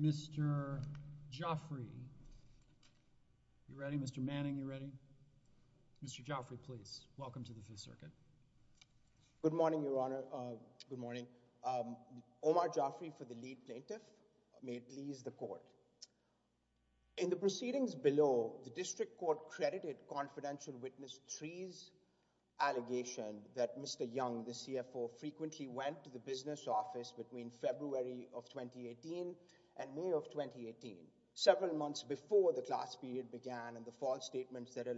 Mr. Joffrey, you ready? Mr. Manning, you ready? Mr. Joffrey, please. Welcome to the Fifth Circuit. Good morning, Your Honor. Good morning. Omar Joffrey for the lead plaintiff. May it please the court. In the proceedings below, the district court credited confidential witness Threes' allegation that Mr. Young, the CFO, frequently went to the business office between February of 2018 and May of 2018, several months before the class period began and the false statements that there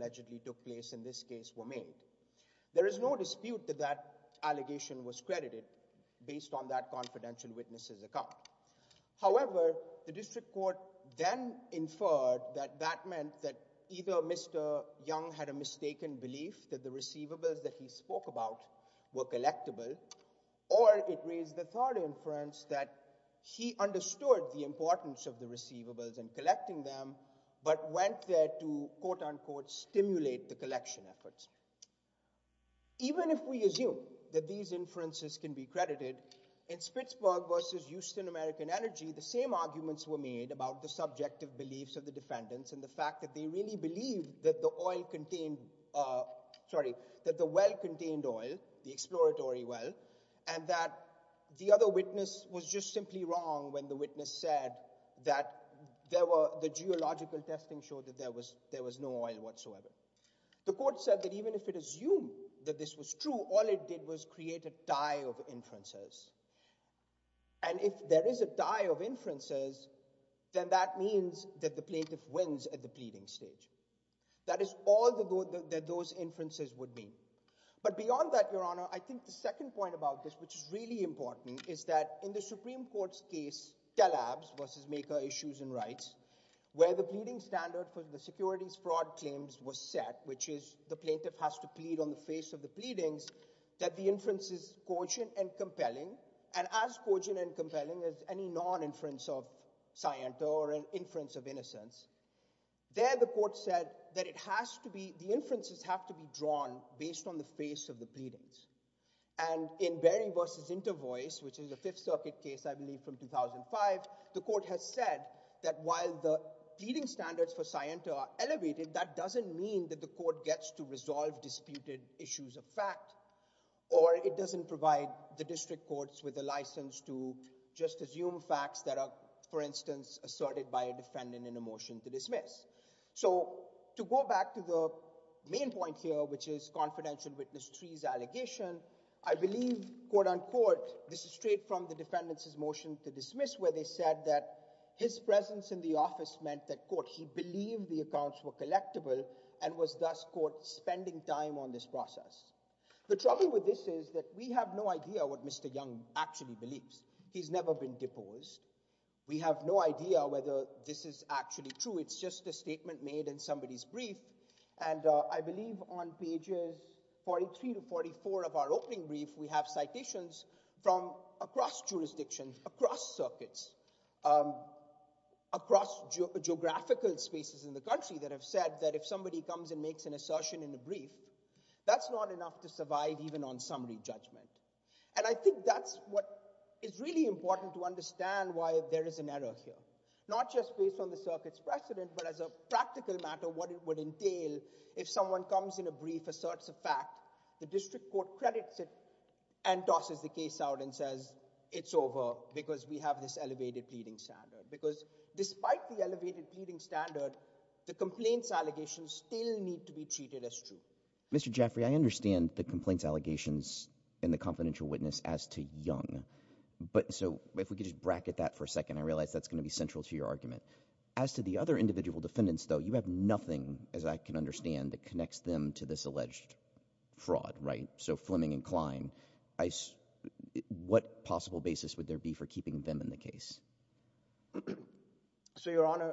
was no dispute that that allegation was credited based on that confidential witness's account. However, the district court then inferred that that meant that either Mr. Young had a mistaken belief that the receivables that he spoke about were collectible or it raised the thought inference that he understood the importance of the receivables and collecting them but went there to quote-unquote stimulate the collection efforts. Even if we assume that these inferences can be credited, in Spitzberg v. Houston American Energy, the same arguments were made about the subjective beliefs of the defendants and the fact that they really believed that the oil contained, sorry, that the well contained oil, the exploratory well, and that the other witness was just simply wrong when the witness said that there were, the geological testing showed that there was no oil whatsoever. The court said that even if it assumed that this was true, all it did was create a tie of inferences and if there is a tie of inferences, then that means that the plaintiff wins at the pleading stage. That is all that those inferences would be. But beyond that, your honor, I think the second point about this, which is really important, is that in the Supreme Court's case, Telabs v. Maker Issues and Rights, where the securities fraud claims were set, which is the plaintiff has to plead on the face of the pleadings, that the inference is cogent and compelling, and as cogent and compelling as any non-inference of scienta or an inference of innocence, there the court said that it has to be, the inferences have to be drawn based on the face of the pleadings. And in Berry v. Intervoice, which is a Fifth Circuit case, I believe from 2005, the court has said that while the pleading standards for scienta are elevated, that doesn't mean that the court gets to resolve disputed issues of fact, or it doesn't provide the district courts with a license to just assume facts that are, for instance, asserted by a defendant in a motion to dismiss. So to go back to the main point here, which is confidential witness trees allegation, I believe, quote-unquote, this is straight from the defendants' motion to dismiss, where they said that his presence in the office meant that, quote, he believed the accounts were collectible, and was thus, quote, spending time on this process. The trouble with this is that we have no idea what Mr. Young actually believes. He's never been deposed. We have no idea whether this is actually true. It's just a statement made in somebody's brief, and I believe on pages 43 to 44 of our opening brief, we have citations from across jurisdictions, across circuits, across geographical spaces in the country that have said that if somebody comes and makes an assertion in a brief, that's not enough to survive even on summary judgment. And I think that's what is really important to understand why there is an error here, not just based on the circuit's precedent, but as a practical matter, what it would entail if someone comes in a brief, asserts a fact, the district court credits it, and tosses the case out and says, it's over, because we have this elevated pleading standard. Because despite the elevated pleading standard, the complaints allegations still need to be treated as true. Mr. Jaffray, I understand the complaints allegations in the confidential witness as to Young, but so if we could just bracket that for a second, I realize that's gonna be central to your argument. As to the other individual defendants, though, you have nothing, as I can understand, that connects them to this alleged fraud, right? So Fleming and Klein, what possible basis would there be for keeping them in the case? So your honor,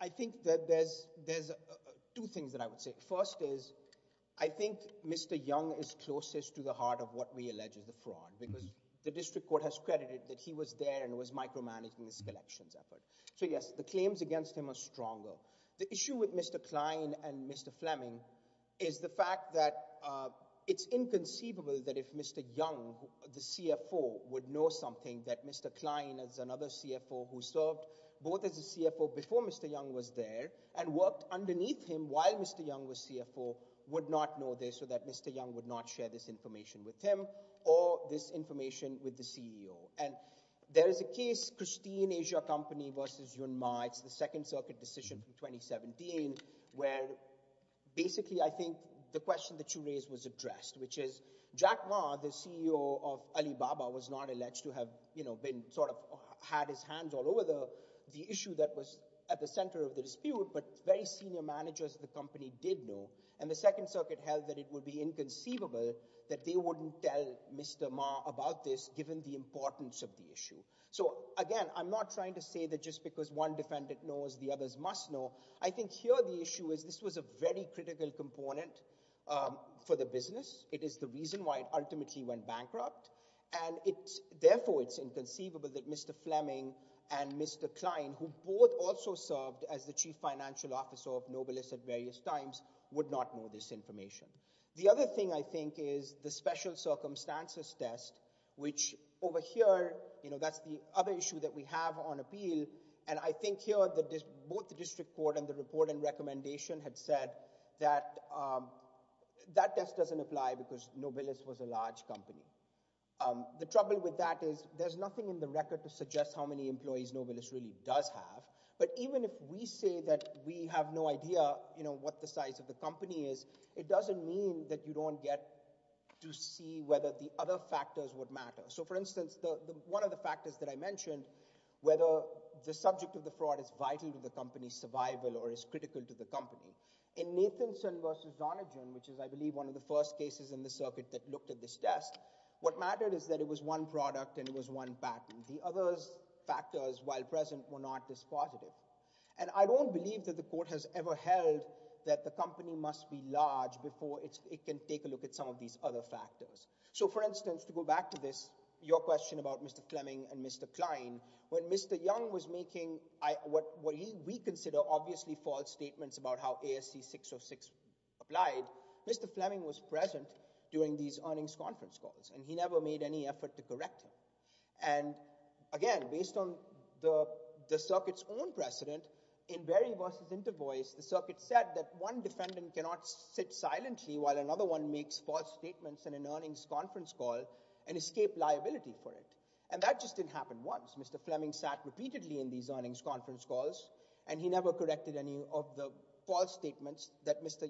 I think that there's two things that I would say. First is, I think Mr. Young is closest to the heart of what we allege is the fraud, because the district court has credited that he was there and was micromanaging this collections effort. So yes, the claims against him are stronger. The issue with Mr. Klein and Mr. Fleming is the fact that it's inconceivable that if Mr. Young, the CFO, would know something that Mr. Klein, as another CFO who served both as a CFO before Mr. Young was there, and worked underneath him while Mr. Young was CFO, would not know this, or that Mr. Young would not share this information with him, or this information with the CEO. And there is a case, Christine Asia Company versus Yun Ma, it's the Second Circuit decision from 2017, where basically I think the question that you raised was addressed, which is Jack Ma, the CEO of Alibaba, was not alleged to have, you know, been sort of had his hands all over the issue that was at the center of the dispute, but very senior managers of the company did know, and the Second Circuit held that it would be inconceivable that they wouldn't tell Mr. Ma about this, given the So, again, I'm not trying to say that just because one defendant knows, the others must know. I think here the issue is this was a very critical component for the business. It is the reason why it ultimately went bankrupt, and therefore it's inconceivable that Mr. Fleming and Mr. Klein, who both also served as the chief financial officer of Nobelist at various times, would not know this information. The other thing, I think, is the special circumstances test, which over here, you know, that's the other issue that we have on appeal, and I think here, both the District Court and the report and recommendation had said that that test doesn't apply because Nobelist was a large company. The trouble with that is there's nothing in the record to suggest how many employees Nobelist really does have, but even if we say that we have no idea, you know, what the size of the company is, it doesn't mean that you don't get to see whether the other factors would matter. So, for instance, one of the factors that I mentioned, whether the subject of the fraud is vital to the company's survival or is critical to the company. In Nathanson v. Zonagin, which is, I believe, one of the first cases in the circuit that looked at this test, what mattered is that it was one product and it was one patent. The other factors, while present, were not this positive, and I don't believe that the court has ever held that the company must be large before it can take a look at some of these other factors. So, for instance, to go back to this, your question about Mr. Fleming and Mr. Klein, when Mr. Young was making what we consider obviously false statements about how ASC 606 applied, Mr. Fleming was present during these earnings conference calls, and he never made any effort to correct him. And, again, based on the circuit's own precedent, in Berry v. Intervoice, the circuit said that one defendant cannot sit silently while another one makes false statements in an earnings conference call and escape liability for it, and that just didn't happen once. Mr. Fleming sat repeatedly in these earnings conference calls, and he never corrected any of the false statements that Mr.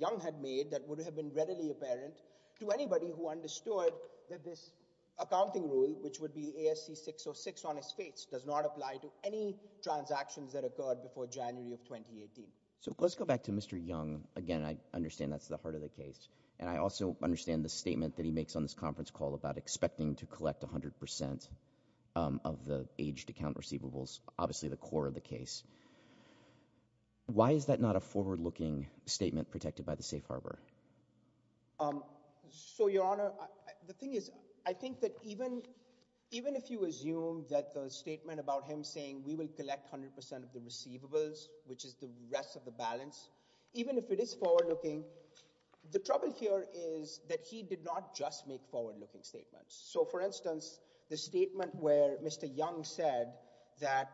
Young had made that would have been readily apparent to anybody who understood that this accounting rule, which would be ASC 606 on his face, does not apply to any transactions that occurred before January of 2018. So, let's go back to Mr. Young. Again, I understand that's the part of the case, and I also understand the statement that he makes on this conference call about expecting to collect 100% of the aged account receivables, obviously the core of the case. Why is that not a forward-looking statement protected by the safe harbor? So, Your Honor, the thing is, I think that even if you assume that the statement about him saying we will collect 100% of the receivables, which is the rest of the balance, even if it is forward-looking, the trouble here is that he did not just make forward-looking statements. So, for instance, the statement where Mr. Young said that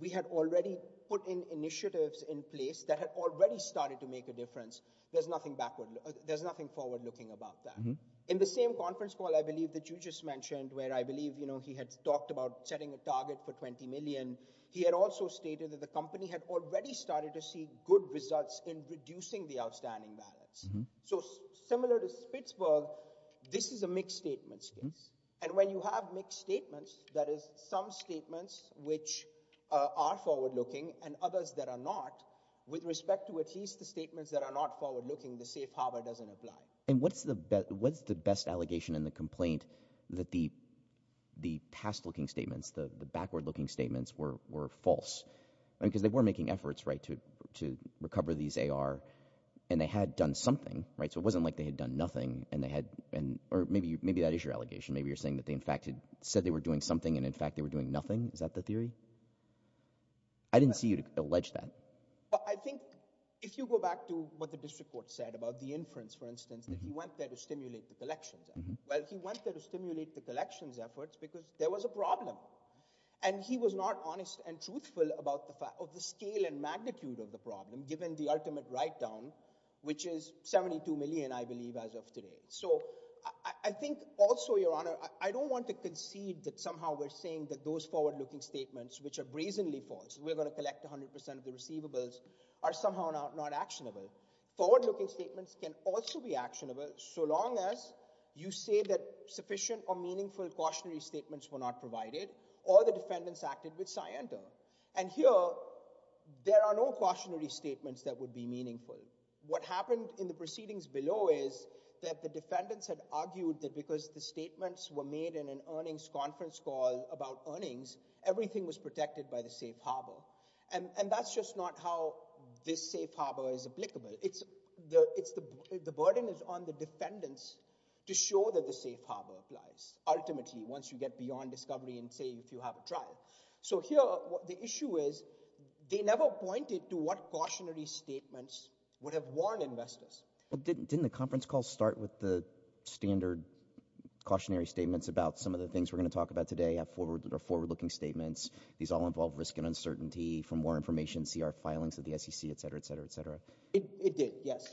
we had already put in initiatives in place that had already started to make a difference, there's nothing forward-looking about that. In the same conference call, I believe, that you just mentioned, where I believe, you know, he had talked about setting a target for 20 million, he had also stated that the outstanding balance. So, similar to Spitzberg, this is a mixed statement case, and when you have mixed statements, that is, some statements which are forward-looking and others that are not, with respect to at least the statements that are not forward-looking, the safe harbor doesn't apply. And what's the best allegation in the complaint that the past-looking statements, the backward-looking statements, were false? Because they were making efforts, right, to recover these AR, and they had done something, right, so it wasn't like they had done nothing, and they had, or maybe that is your allegation, maybe you're saying that they, in fact, had said they were doing something, and, in fact, they were doing nothing. Is that the theory? I didn't see you allege that. I think, if you go back to what the district court said about the inference, for instance, that he went there to stimulate the collections, well, he went there to stimulate the collections efforts because there was a problem, and he was not honest and truthful about the scale and magnitude of the problem, given the ultimate write-down, which is 72 million, I believe, as of today. So, I think, also, Your Honor, I don't want to concede that somehow we're saying that those forward-looking statements, which are brazenly false, we're going to collect 100% of the receivables, are somehow not actionable. Forward-looking statements can also be actionable, so long as you say that sufficient or meaningful cautionary statements were not provided, or the defendants acted with scienter. And here, there are no cautionary statements that would be meaningful. What happened in the proceedings below is that the defendants had argued that, because the statements were made in an earnings conference call about earnings, everything was protected by the safe harbor, and that's just not how this safe harbor is applicable. It's the burden is on the defendants to show that the safe harbor applies, ultimately, once you get beyond discovery and, say, if you have a trial. So, here, the issue is, they never pointed to what cautionary statements would have warned investors. Didn't the conference call start with the standard cautionary statements about some of the things we're going to talk about today, have forward-looking statements. These all involve risk and uncertainty. For more information, see our filings of the SEC, etc., etc., etc. It did, yes.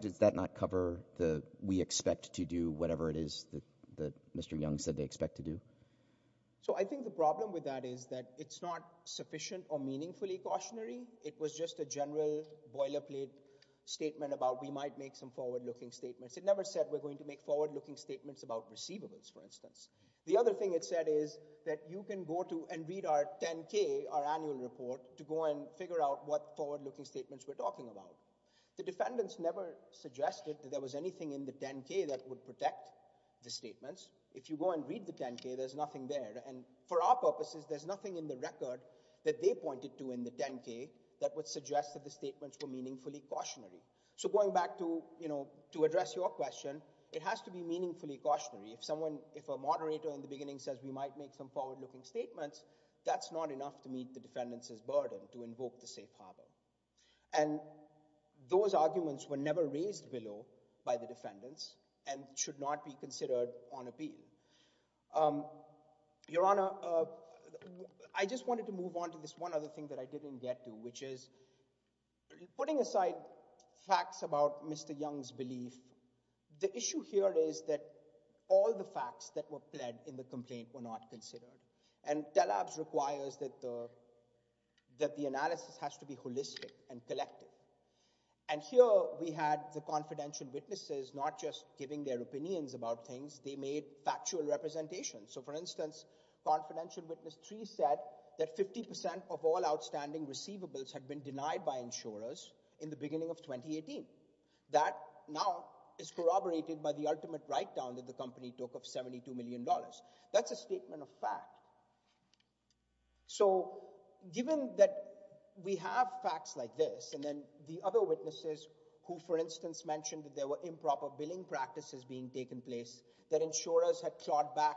Does that not cover the, we expect to do whatever it is that Mr. Young said they expect to do? So, I think the problem with that is that it's not sufficient or meaningfully cautionary. It was just a general boilerplate statement about, we might make some forward-looking statements. It never said we're going to make forward-looking statements about receivables, for instance. The other thing it said is that you can go to and read our 10-K, our annual report, to go and figure out what forward-looking statements we're talking about. The defendants never suggested that there was anything in the 10-K that would protect the statements. If you go and read the 10-K, there's nothing there, and for our purposes, there's nothing in the record that they pointed to in the 10-K that would suggest that the statements were meaningfully cautionary. So, going back to, you know, to address your question, it has to be meaningfully cautionary. If someone, if a moderator in the beginning says we might make some forward-looking statements, that's not enough to meet the defendants' burden to make forward-looking statements. These arguments were never raised below by the defendants and should not be considered on appeal. Your Honor, I just wanted to move on to this one other thing that I didn't get to, which is, putting aside facts about Mr. Young's belief, the issue here is that all the facts that were pled in the complaint were not considered, and TELABS requires that the analysis has to be holistic and collected, and here we had the confidential witnesses not just giving their opinions about things, they made factual representations. So, for instance, confidential witness 3 said that 50% of all outstanding receivables had been denied by insurers in the beginning of 2018. That now is corroborated by the ultimate write-down that the company took of $72 million. That's a statement of fact. So, given that we have facts like this, and then the other witnesses who, for instance, mentioned that there were improper billing practices being taken place, that insurers had clawed back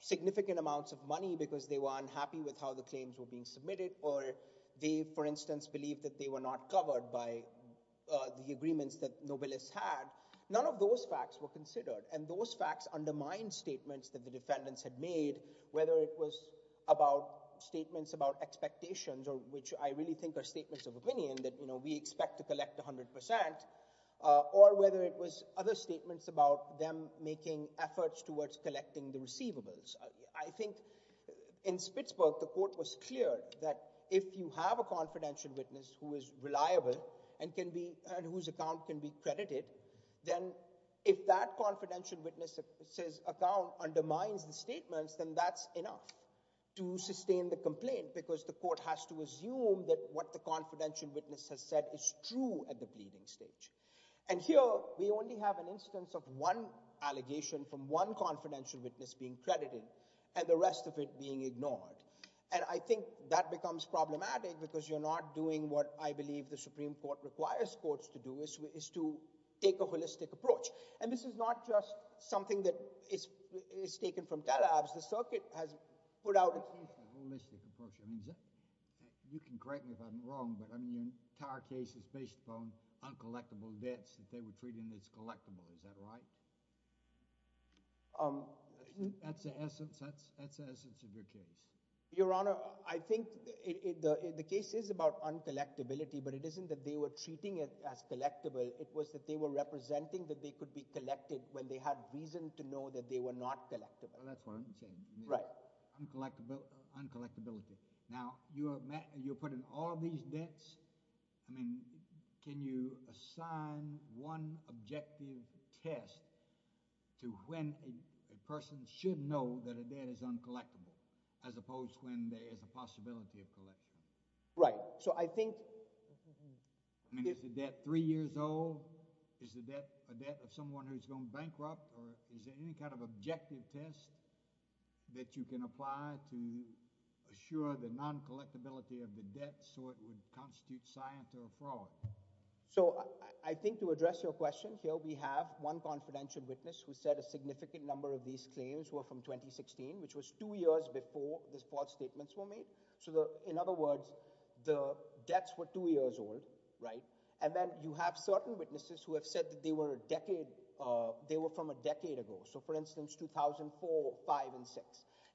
significant amounts of money because they were unhappy with how the claims were being submitted, or they, for instance, believed that they were not covered by the agreements that Nobilis had, none of those facts were considered, and those facts undermined statements that the defendants had made, whether it was about statements about expectations, or which I really think are statements of opinion, that, you know, we expect to collect 100%, or whether it was other statements about them making efforts towards collecting the receivables. I think in Spitsburg, the court was clear that if you have a confidential witness who is reliable and whose account can be trusted, if that confidential witness's account undermines the statements, then that's enough to sustain the complaint, because the court has to assume that what the confidential witness has said is true at the pleading stage. And here, we only have an instance of one allegation from one confidential witness being credited, and the rest of it being ignored. And I think that becomes problematic, because you're not doing what I believe the Supreme Court requires courts to do, which is to take a holistic approach. And this is not just something that is taken from tele-apps. The circuit has put out a holistic approach. You can correct me if I'm wrong, but I mean, the entire case is based upon uncollectible debts that they were treating as collectible. Is that right? That's the essence of your case. Your Honor, I think the case is about uncollectibility, but it isn't that they were treating it as collectible. It was that they were representing that they could be collected when they had reason to know that they were not collectible. That's what I'm saying. Right. Uncollectibility. Now, you're putting all these debts. I mean, can you assign one objective test to when a person should know that a debt is uncollectible, as opposed to when there is a possibility of collection? Right. So I think... I mean, is the debt three years old? Is the debt a debt of someone who's going bankrupt? Or is there any kind of objective test that you can apply to assure the non-collectibility of the debt so it would constitute science or fraud? So I think to address your question, here we have one confidential witness who said a significant number of these claims were from 2016, which was two years before these false statements were made. So in other words, the debts were two years old, right? And then you have certain witnesses who have said that they were from a decade ago. So for instance, 2004, 5, and 6.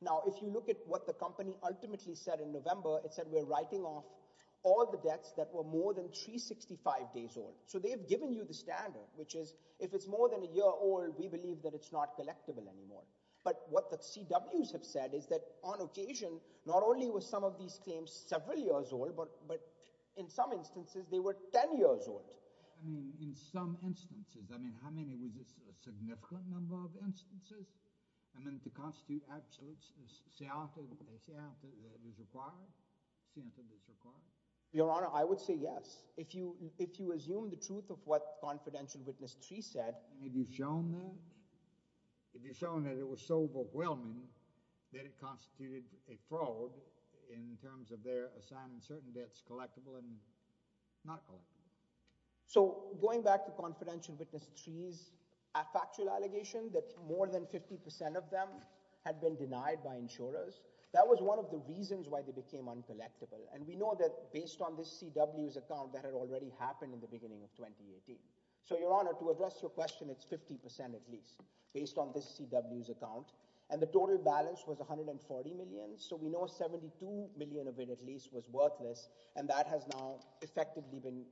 Now, if you look at what the company ultimately said in November, it said we're writing off all the debts that were more than 365 days old. So they've given you the standard, which is, if it's more than a decade old, it's not collectible anymore. But what the CWs have said is that on occasion, not only were some of these claims several years old, but in some instances, they were ten years old. I mean, in some instances. I mean, how many was this a significant number of instances? I mean, to constitute absolutes, is science required? Your Honor, I would say yes. If you assume the truth of what you've shown, that it was so overwhelming that it constituted a fraud in terms of their assigning certain debts collectible and not collectible. So, going back to confidential witness threes, a factual allegation that more than 50% of them had been denied by insurers, that was one of the reasons why they became uncollectible. And we know that based on this CW's account, that had already happened in the beginning of 2018. So, Your Honor, to address your question, it's 50% at least. Based on this CW's account. And the total balance was 140 million. So, we know 72 million of it at least was worthless. And that has now effectively been,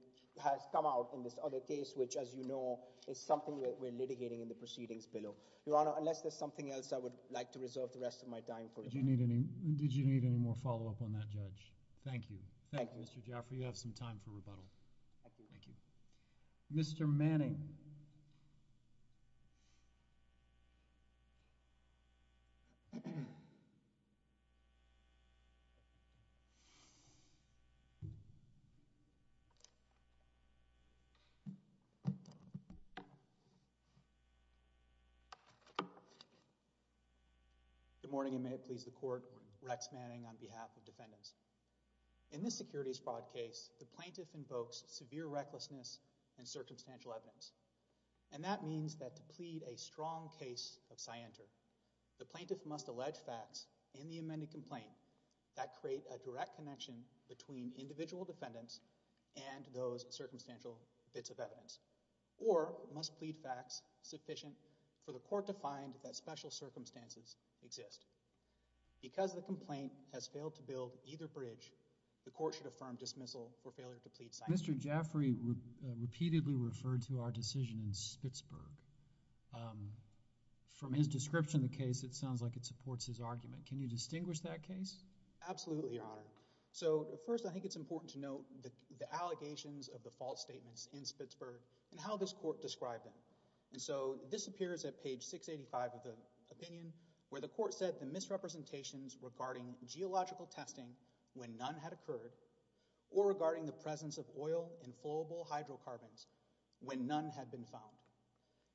has come out in this other case, which as you know, is something that we're litigating in the proceedings below. Your Honor, unless there's something else I would like to reserve the rest of my time for. Did you need any more follow-up on that, Judge? Thank you. Thank you, Mr. Jaffer. You have some time for rebuttal. Thank you. Mr. Manning. Good morning and may it please the Court. Rex Manning on behalf of defendants. In this securities fraud case, the plaintiff invokes severe recklessness and circumstantial evidence. And that means that to plead a strong case of scienter, the plaintiff must allege facts in the amended complaint that create a direct connection between individual defendants and those circumstantial bits of evidence. Or, must plead facts sufficient for the court to find that special circumstances exist. Because the complaint has failed to build either bridge, the court should affirm dismissal for failure to plead scientific. Mr. Jaffery repeatedly referred to our decision in Spitzberg. From his description of the case, it sounds like it supports his argument. Can you distinguish that case? Absolutely, Your Honor. So first, I think it's important to note the allegations of the false statements in Spitzberg and how this court described them. And so, this appears at page 685 of the opinion, where the court said the plaintiff did not know when none had occurred or regarding the presence of oil and flowable hydrocarbons when none had been found.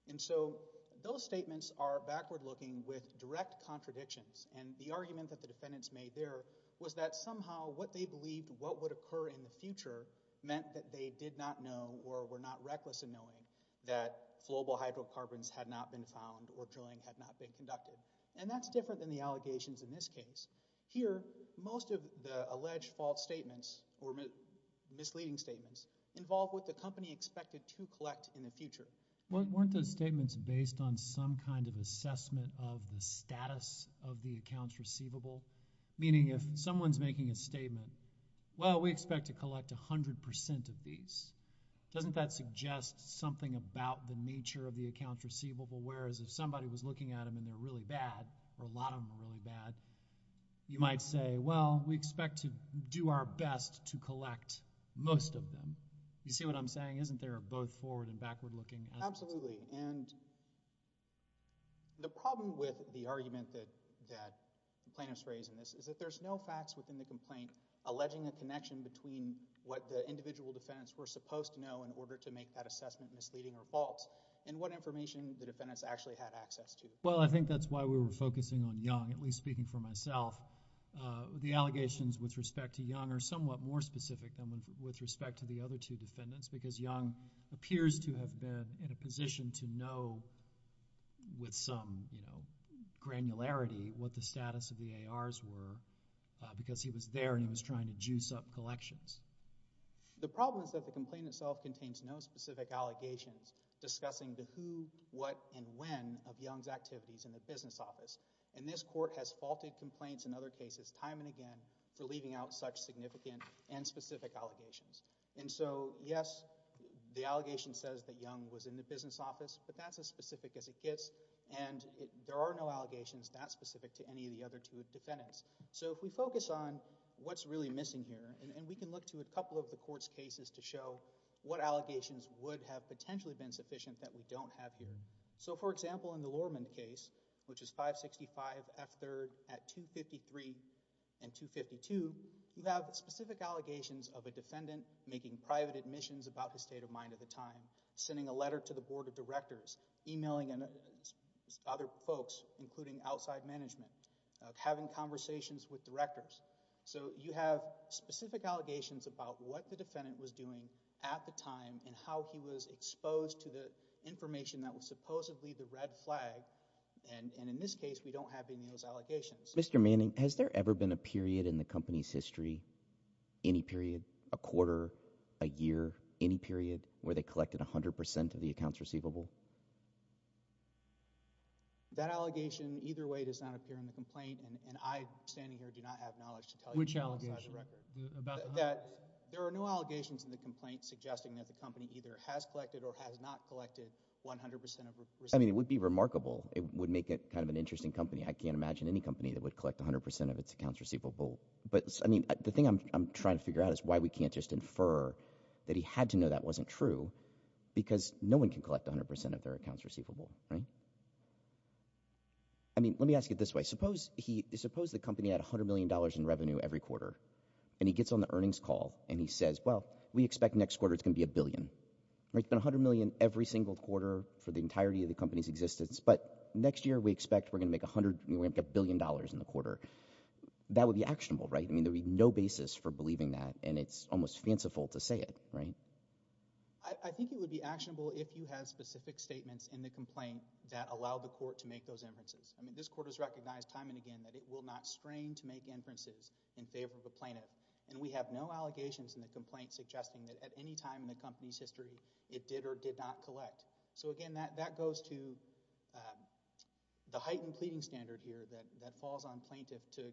And so, those statements are backward-looking with direct contradictions. And the argument that the defendants made there was that somehow what they believed what would occur in the future meant that they did not know or were not reckless in knowing that flowable hydrocarbons had not been found or drilling had not been conducted. And that's different than the allegations in this case. Here, most of the alleged false statements or misleading statements involved what the company expected to collect in the future. Weren't those statements based on some kind of assessment of the status of the accounts receivable? Meaning, if someone's making a statement, well, we expect to collect a hundred percent of these. Doesn't that suggest something about the nature of the accounts receivable? Whereas, if somebody was looking at them and they're really bad, or a lot of them are really bad, you might say, well, we expect to do our best to collect most of them. You see what I'm saying? Isn't there a both forward and backward-looking? Absolutely. And the problem with the argument that plaintiffs raised in this is that there's no facts within the complaint alleging a connection between what the individual defendants were supposed to know in order to make that assessment misleading or false and what information the allegations with respect to Young are somewhat more specific than with respect to the other two defendants because Young appears to have been in a position to know with some granularity what the status of the ARs were because he was there and he was trying to juice up collections. The problem is that the complaint itself contains no specific allegations discussing the who, what, and when of Young's activities in the business office. And this court has faulted complaints in other cases time and again for leaving out such significant and specific allegations. And so, yes, the allegation says that Young was in the business office, but that's as specific as it gets and there are no allegations that specific to any of the other two defendants. So if we focus on what's really missing here, and we can look to a couple of the court's cases to show what allegations would have potentially been sufficient that we don't have here. So, for example, in the Lorman case, which is 565 F. 3rd at 253 and 252, you have specific allegations of a defendant making private admissions about the state of mind at the time, sending a letter to the Board of Directors, emailing other folks, including outside management, having conversations with directors. So you have specific allegations about what the the red flag and in this case we don't have any of those allegations. Mr. Manning, has there ever been a period in the company's history, any period, a quarter, a year, any period, where they collected a hundred percent of the accounts receivable? That allegation either way does not appear in the complaint and I standing here do not have knowledge to tell you. Which allegations? There are no allegations in the complaint suggesting that the company either has collected or has not collected 100% of receivable. I mean, it would be remarkable. It would make it kind of an interesting company. I can't imagine any company that would collect 100% of its accounts receivable. But, I mean, the thing I'm trying to figure out is why we can't just infer that he had to know that wasn't true because no one can collect 100% of their accounts receivable, right? I mean, let me ask it this way. Suppose he, suppose the company had a hundred million dollars in revenue every quarter and he gets on the earnings call and he says, well, we expect next quarter it's gonna be a billion, right? It's been a hundred million every single quarter for the entirety of the company's existence, but next year we expect we're gonna make a hundred, we're gonna make a billion dollars in the quarter. That would be actionable, right? I mean, there'd be no basis for believing that and it's almost fanciful to say it, right? I think it would be actionable if you had specific statements in the complaint that allowed the court to make those inferences. I mean, this court has recognized time and again that it will not strain to make inferences in favor of a plaintiff and we have no doubt that any time in the company's history it did or did not collect. So again, that goes to the heightened pleading standard here that falls on plaintiff to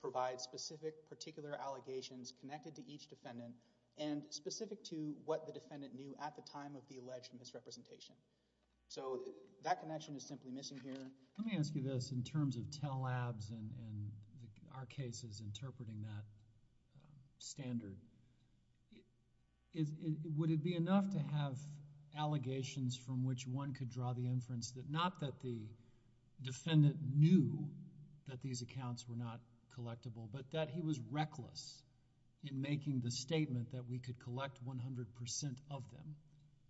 provide specific particular allegations connected to each defendant and specific to what the defendant knew at the time of the alleged misrepresentation. So, that connection is simply missing here. Let me ask you this in terms of Tell Labs and our cases interpreting that standard. Would it be enough to have allegations from which one could draw the inference that not that the defendant knew that these accounts were not collectible, but that he was reckless in making the statement that we could collect 100% of them?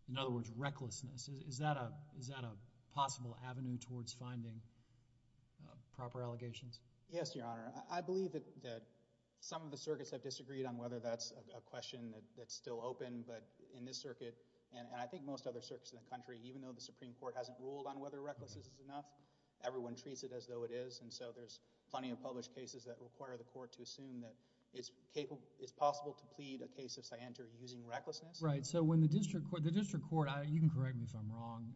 In other words, recklessness. Is that a possible avenue towards finding proper allegations? Yes, Your Honor. I believe that some of the questions, I don't know whether that's a question that's still open, but in this circuit and I think most other circuits in the country, even though the Supreme Court hasn't ruled on whether recklessness is enough, everyone treats it as though it is. And so, there's plenty of published cases that require the court to assume that it's possible to plead a case of scienter using recklessness. Right. So, when the district court... the district court, you can correct me if I'm wrong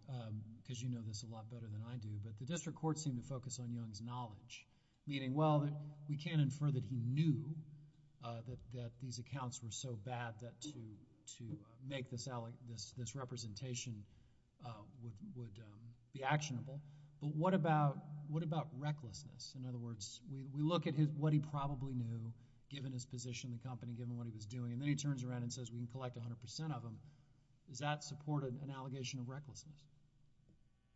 because you know this a lot better than I do, but the district court seemed to focus on Young's knowledge, meaning, well, we can't infer that he knew that these accounts were so bad that to make this representation would be actionable. But what about recklessness? In other words, we look at what he probably knew, given his position in the company, given what he was doing, and then he turns around and says, we can collect 100% of them. Does that support an allegation of recklessness?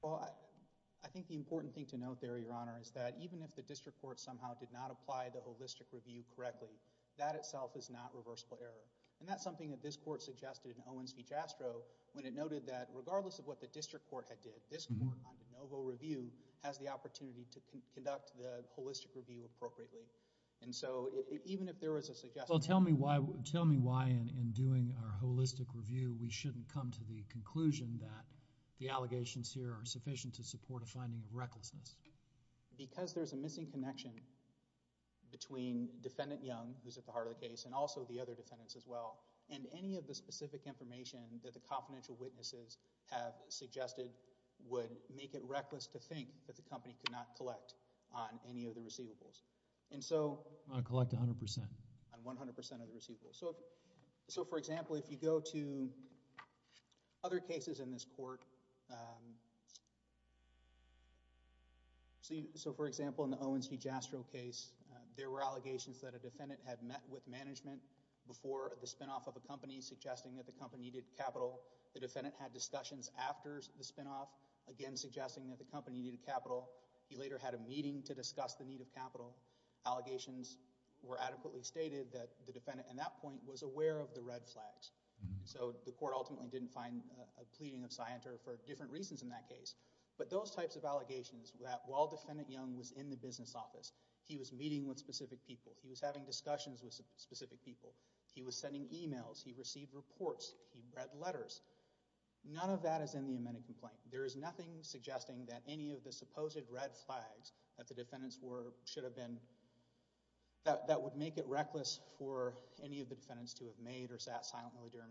Well, I think the important thing to note there, Your Honor, is that even if the district court somehow did not apply the holistic review correctly, that itself is not reversible error. And that's something that this court suggested in Owens v. Jastrow when it noted that regardless of what the district court had did, this court on de novo review has the opportunity to conduct the holistic review appropriately. And so, even if there was a suggestion... Well, tell me why in doing our holistic review we shouldn't come to the conclusion that the allegations here are sufficient to support a finding of recklessness. Because there's a missing connection between Defendant Young, who's at the heart of the case, and also the other defendants as well. And any of the specific information that the confidential witnesses have suggested would make it reckless to think that the company could not collect on any of the receivables. And so... I'm going to collect 100%. On 100% of the receivables. So, for example, if you go to other cases in this court... So, for example, in the Owens v. Jastrow case, there were allegations that a defendant had met with management before the spinoff of a company, suggesting that the company needed capital. The defendant had discussions after the spinoff, again suggesting that the company needed capital. He later had a meeting to discuss the need of capital. Allegations were adequately stated that the defendant in that point was of Scienter for different reasons in that case. But those types of allegations that while Defendant Young was in the business office, he was meeting with specific people, he was having discussions with specific people, he was sending emails, he received reports, he read letters, none of that is in the amended complaint. There is nothing suggesting that any of the supposed red flags that the defendants were... should have been... that would make it reckless for any of the defendants to have made or sat there.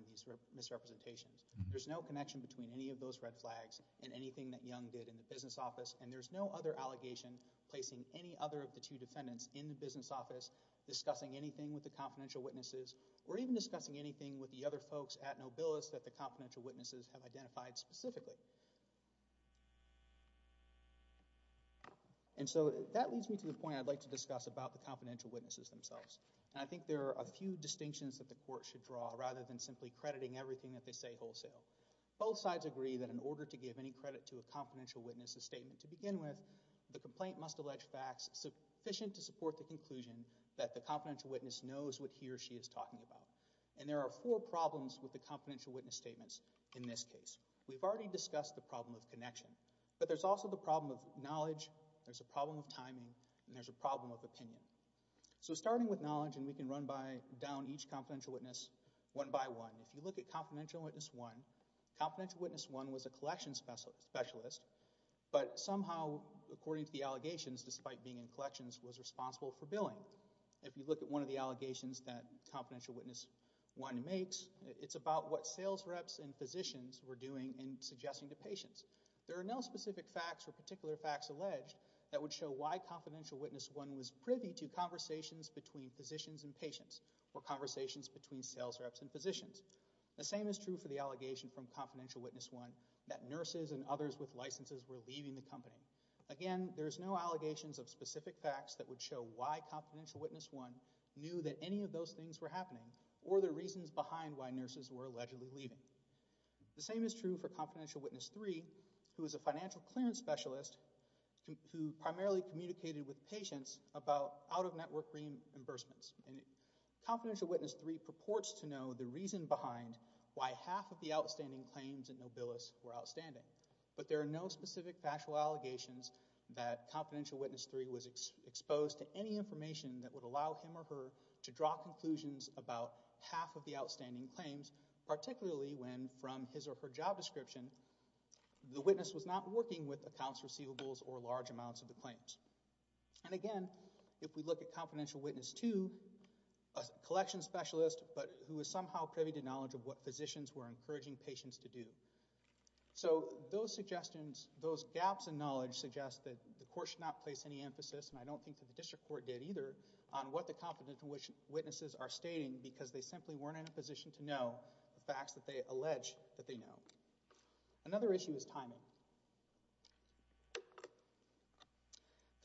There is no connection between any of those red flags and anything that Young did in the business office, and there is no other allegation placing any other of the two defendants in the business office discussing anything with the confidential witnesses or even discussing anything with the other folks at Nobilis that the confidential witnesses have identified specifically. And so, that leads me to the point I'd like to discuss about the confidential witnesses themselves. I think there are a few distinctions that the court should draw rather than simply crediting everything that they say wholesale. Both sides agree that in order to give any credit to a confidential witness's statement to begin with, the complaint must allege facts sufficient to support the conclusion that the confidential witness knows what he or she is talking about. And there are four problems with the confidential witness statements in this case. We've already discussed the problem of connection, but there's also the problem of knowledge, there's a problem of timing, and there's a problem of opinion. So starting with knowledge, and we can run down each of those. If you look at Confidential Witness 1, Confidential Witness 1 was a collection specialist, but somehow, according to the allegations, despite being in collections, was responsible for billing. If you look at one of the allegations that Confidential Witness 1 makes, it's about what sales reps and physicians were doing in suggesting to patients. There are no specific facts or particular facts alleged that would show why Confidential Witness 1 was privy to conversations between physicians and sales reps. The same is true for the allegation from Confidential Witness 1 that nurses and others with licenses were leaving the company. Again, there's no allegations of specific facts that would show why Confidential Witness 1 knew that any of those things were happening, or the reasons behind why nurses were allegedly leaving. The same is true for Confidential Witness 3, who is a financial clearance specialist, who primarily communicated with patients about out-of-network reimbursements. Confidential Witness 3 purports to know the reason behind why half of the outstanding claims in Nobilis were outstanding, but there are no specific factual allegations that Confidential Witness 3 was exposed to any information that would allow him or her to draw conclusions about half of the outstanding claims, particularly when, from his or her job description, the witness was not working with accounts receivables or large amounts of the claims. And again, if we look at Confidential Witness 2, a collection specialist, but who was somehow privy to knowledge of what physicians were encouraging patients to do. So those suggestions, those gaps in knowledge, suggest that the court should not place any emphasis, and I don't think that the district court did either, on what the Confidential Witnesses are stating, because they simply weren't in a position to know the facts that they allege that they know. Another issue is timing.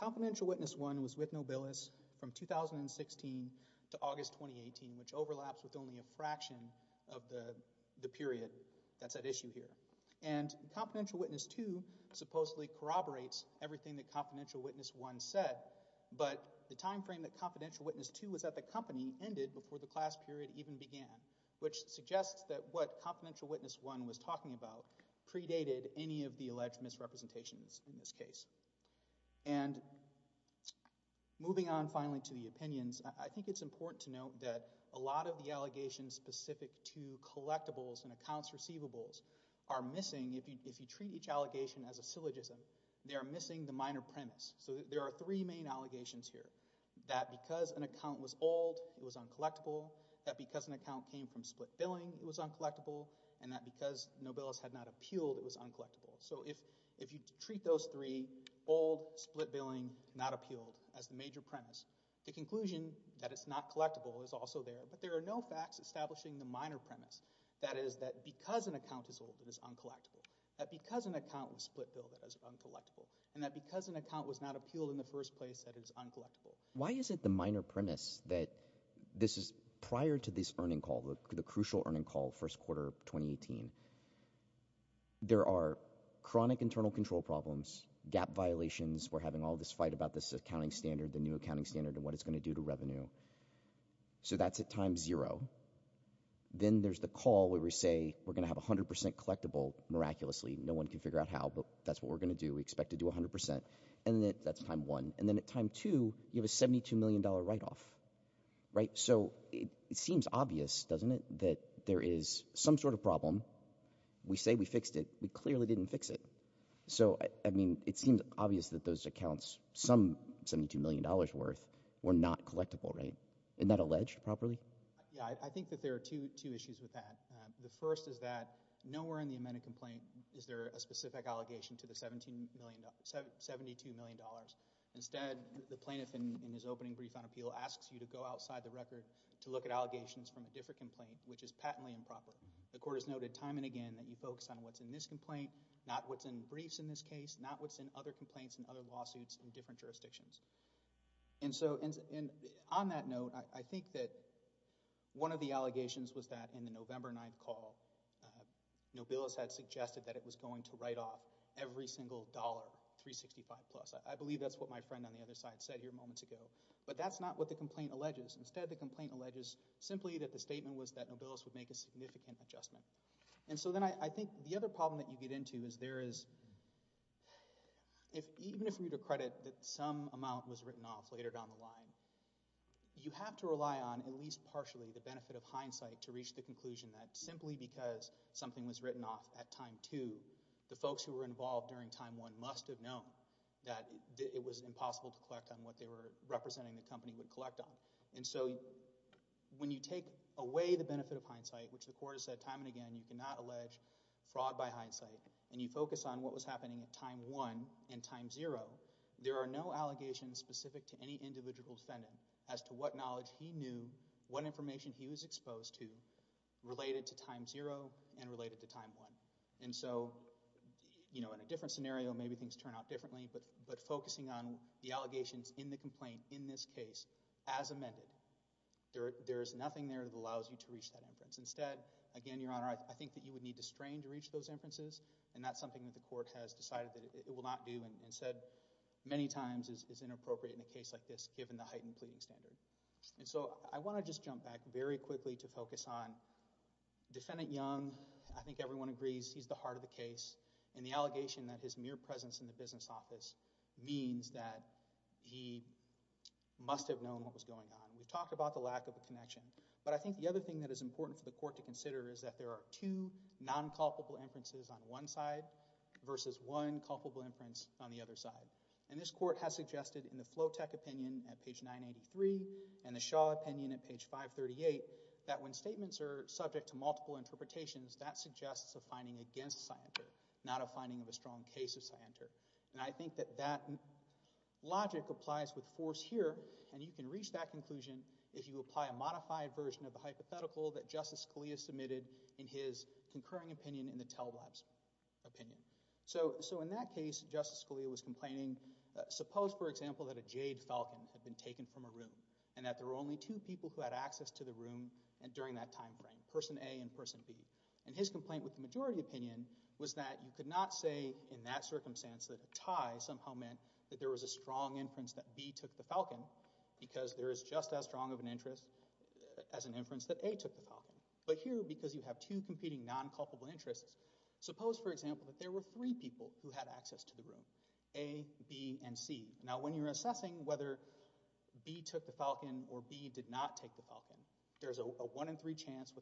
Confidential Witness 1 was with Nobilis from 2016 to August 2018, which overlaps with only a fraction of the period that's at issue here. And Confidential Witness 2 supposedly corroborates everything that Confidential Witness 1 said, but the time frame that Confidential Witness 2 was at the company ended before the class period even began, which suggests that what Confidential Witness 1 was talking about predated any of the alleged misrepresentations in this case. And moving on finally to the opinions, I think it's important to note that a lot of the allegations specific to collectibles and accounts receivables are missing. If you treat each allegation as a syllogism, they are missing the minor premise. So there are three main allegations here, that because an account was old, it was uncollectible, that because an account came from split billing, it was uncollectible, and that because Nobilis had not appealed, it was old, split billing, not appealed, as the major premise. The conclusion that it's not collectible is also there, but there are no facts establishing the minor premise, that is that because an account is old, it is uncollectible, that because an account was split billed, it is uncollectible, and that because an account was not appealed in the first place, that it is uncollectible. Why is it the minor premise that this is prior to this earning call, the crucial earning call, first quarter of 2018, there are chronic internal control problems, gap violations, we're having all this fight about this accounting standard, the new accounting standard, and what it's going to do to revenue. So that's at time zero. Then there's the call where we say we're gonna have a hundred percent collectible, miraculously, no one can figure out how, but that's what we're gonna do, we expect to do a hundred percent, and then that's time one. And then at time two, you have a seventy two million dollar write-off, right? So it seems obvious, doesn't it, that there is some sort of problem, we say we fixed it, we clearly didn't fix it. So, I mean, it seems obvious that those accounts, some seventy two million dollars worth, were not collectible, right? Isn't that alleged properly? Yeah, I think that there are two issues with that. The first is that nowhere in the amended complaint is there a specific allegation to the seventy two million dollars. Instead, the plaintiff, in his opening brief on appeal, asks you to go outside the record to look at allegations from a different complaint, which is patently improper. The court has not looked at what's in this complaint, not what's in briefs in this case, not what's in other complaints and other lawsuits in different jurisdictions. And so, on that note, I think that one of the allegations was that in the November 9th call, Nobilis had suggested that it was going to write off every single dollar, $365 plus. I believe that's what my friend on the other side said here moments ago, but that's not what the complaint alleges. Instead, the complaint alleges simply that the statement was that Nobilis would make a significant adjustment. And so then, I think the other problem that you get into is there is, if even if we were to credit that some amount was written off later down the line, you have to rely on at least partially the benefit of hindsight to reach the conclusion that simply because something was written off at time two, the folks who were involved during time one must have known that it was impossible to collect on what they were representing the company would collect on. And so, when you take away the benefit of hindsight, which the court has said time and again you cannot allege fraud by hindsight, and you focus on what was happening at time one and time zero, there are no allegations specific to any individual defendant as to what knowledge he knew, what information he was exposed to, related to time zero and related to time one. And so, you know, in a different scenario, maybe things turn out differently, but focusing on the allegations in the complaint, in this case, as amended, there's nothing there that allows you to reach that inference. Instead, again, Your Honor, I think that you would need to strain to reach those inferences, and that's something that the court has decided that it will not do, and said many times is inappropriate in a case like this, given the heightened pleading standard. And so, I want to just jump back very quickly to focus on Defendant Young. I think everyone agrees he's the heart of the case, and the allegation that his mere presence in the business office means that he must have known what was going on. We've talked about the lack of a connection, but I think the other thing that is important for the court to consider is that there are two non-culpable inferences on one side versus one culpable inference on the other side. And this court has suggested in the Flotec opinion at page 983 and the Shaw opinion at page 538 that when statements are subject to multiple interpretations, that suggests a finding against Sienter, not a finding of a strong case of Sienter. And I think that that logic applies with force here, and you can reach that conclusion if you apply a modified version of the hypothetical that Justice Scalia submitted in his concurring opinion in the Telwab's opinion. So in that case, Justice Scalia was complaining, suppose for example, that a jade falcon had been taken from a room, and that there were only two people who had access to the room during that time frame, person A and person B. And his complaint with the majority opinion was that you could not say in that circumstance that the jade falcon somehow meant that there was a strong inference that B took the falcon, because there is just as strong of an interest as an inference that A took the falcon. But here, because you have two competing non-culpable interests, suppose for example that there were three people who had access to the room, A, B, and C. Now when you're assessing whether B took the falcon or B did not take the falcon, there's a one-in-three chance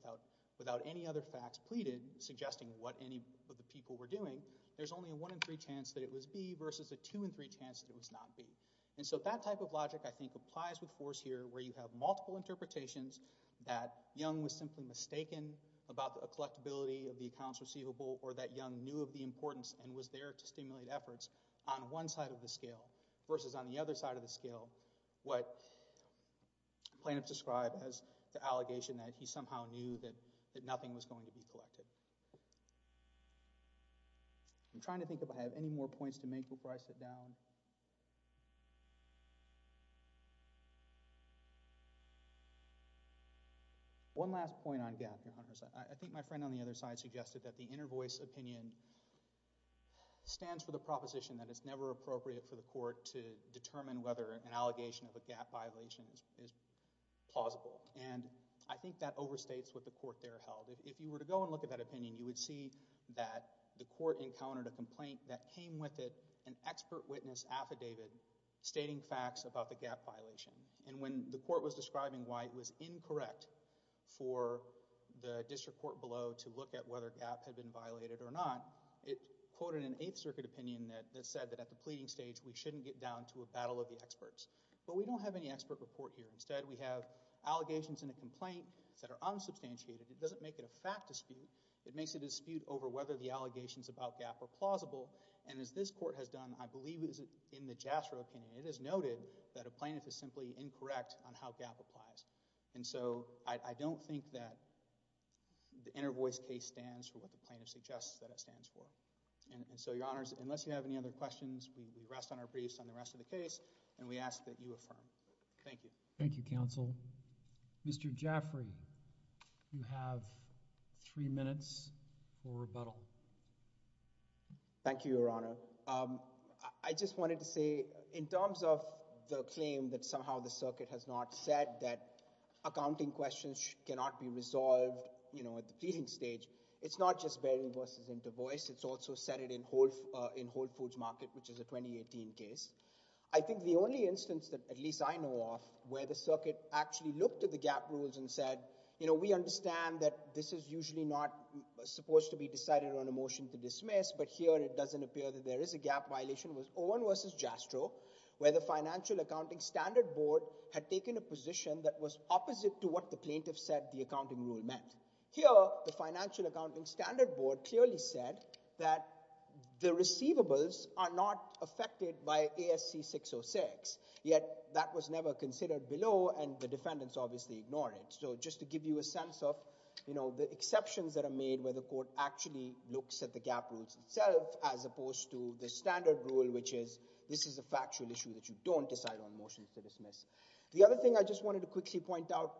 without any other facts pleaded suggesting what any of the people were doing, there's only a one-in-three chance that it was B versus a two-in-three chance that it was not B. And so that type of logic, I think, applies with force here, where you have multiple interpretations that Young was simply mistaken about the collectability of the accounts receivable, or that Young knew of the importance and was there to stimulate efforts on one side of the scale versus on the other side of the scale, what plaintiffs describe as the allegation that he somehow knew that nothing was going to be collected. I'm trying to think if I have any more points to make before I sit down. One last point on gap, I think my friend on the other side suggested that the inner voice opinion stands for the proposition that it's never appropriate for the court to determine whether an allegation of a gap violation is plausible, and I think that overstates what the court there held. If you were to go and look at that opinion, you would see that the court encountered a complaint that came with it an expert witness affidavit stating facts about the gap violation, and when the court was describing why it was incorrect for the district court below to look at whether gap had been violated or not, it quoted an Eighth Circuit opinion that said that at the pleading stage, we shouldn't get down to a battle of the experts, but we don't have any expert report here. Instead, we have allegations in a complaint that are unsubstantiated. It doesn't make it a fact dispute. It makes it a dispute over whether the allegations about gap are plausible, and as this court has done, I believe it is in the JASRA opinion. It is noted that a plaintiff is simply incorrect on how gap applies, and so I don't think that the inner voice case stands for what the plaintiff suggests that it stands for, and so, Your Honors, unless you have any other questions, we rest on our briefs on the rest of the case, and we ask that you affirm. Thank you. Thank you, counsel. Mr. Jaffrey, you have three minutes for rebuttal. Thank you, Your Honor. I just wanted to say, in terms of the claim that somehow the circuit has not said that accounting questions cannot be resolved, you know, at the pleading stage, it's not just bearing verses into voice. It's also set it in Whole Foods Market, which is a 2018 case. I think the only instance that at least I know of where the circuit actually looked at the gap rules and said, you know, we understand that this is usually not supposed to be decided on a motion to dismiss, but here it doesn't appear that there is a gap violation was Owen versus Jastrow, where the Financial Accounting Standard Board had taken a position that was opposite to what the plaintiff said the accounting rule meant. Here, the Financial Accounting Standard Board clearly said that the receivables are not affected by ASC 606, yet that was never considered below, and the defendants obviously ignored it. So just to give you a sense of, you know, the exceptions that are made where the court actually looks at the gap rules itself, as opposed to the standard rule, which is this is a factual issue that you don't decide on motions to dismiss. The other thing I just wanted to quickly point out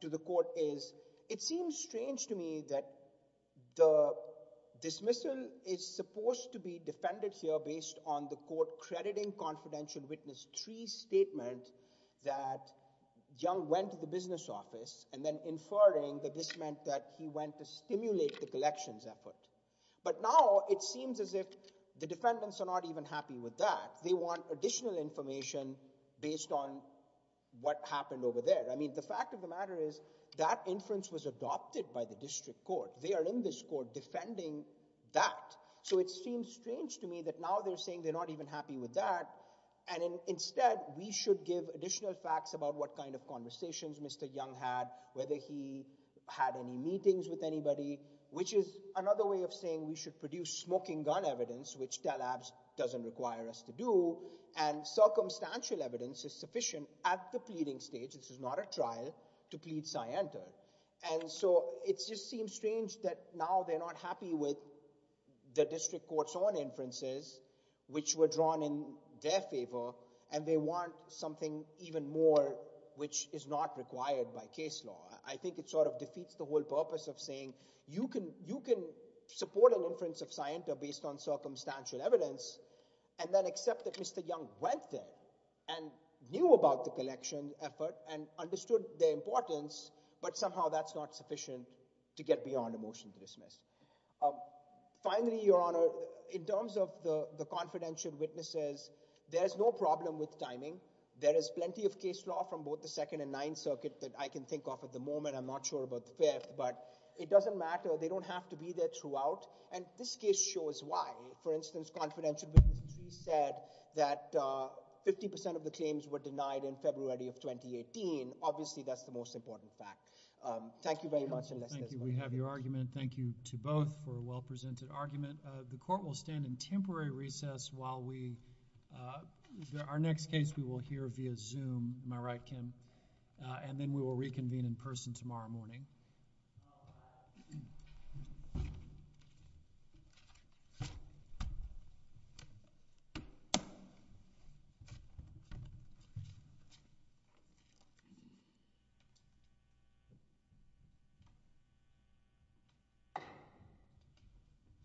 to the court is it seems strange to me that the dismissal is supposed to be defended here based on the court crediting confidential witness tree statement that Young went to the business office and then inferring that this meant that he went to stimulate the collections effort. But now it seems as if the defendants are not even happy with that. They want additional information based on what happened over there. I mean, the fact of the matter is that inference was adopted by the district court. They are in this court defending that. So it seems strange to me that now they're saying they're not even happy with that, and instead we should give additional facts about what kind of conversations Mr. Young had, whether he had any meetings with anybody, which is another way of saying we should produce smoking gun evidence, which TALABS doesn't require us to do, and circumstantial evidence is sufficient at the pleading stage, this is not a trial, to plead scienter. And so it just seems strange that now they're not happy with the district court's own inferences, which were drawn in their favor, and they want something even more which is not required by case law. I think it sort of defeats the whole purpose of saying you can support an inference of scienter based on circumstantial evidence, and then accept that Mr. Young went there and knew about the collection effort and understood their importance, but somehow that's not sufficient to get beyond a motion to dismiss. Finally, Your Honor, in terms of the confidential witnesses, there's no problem with timing. There is plenty of case law from both the Second and Ninth Circuit that I can think of at the moment. I'm not sure about the Fifth, but it doesn't matter. They don't have to be there throughout, and this case shows why. For instance, confidential witnesses said that 50% of the claims were denied in February of 2018. Obviously, that's the most important fact. Thank you very much. Thank you. We have your argument. Thank you to both for a well-presented argument. The court will stand in temporary recess while we, our next case we will hear via Zoom. Am I right, Kim? And then we will reconvene in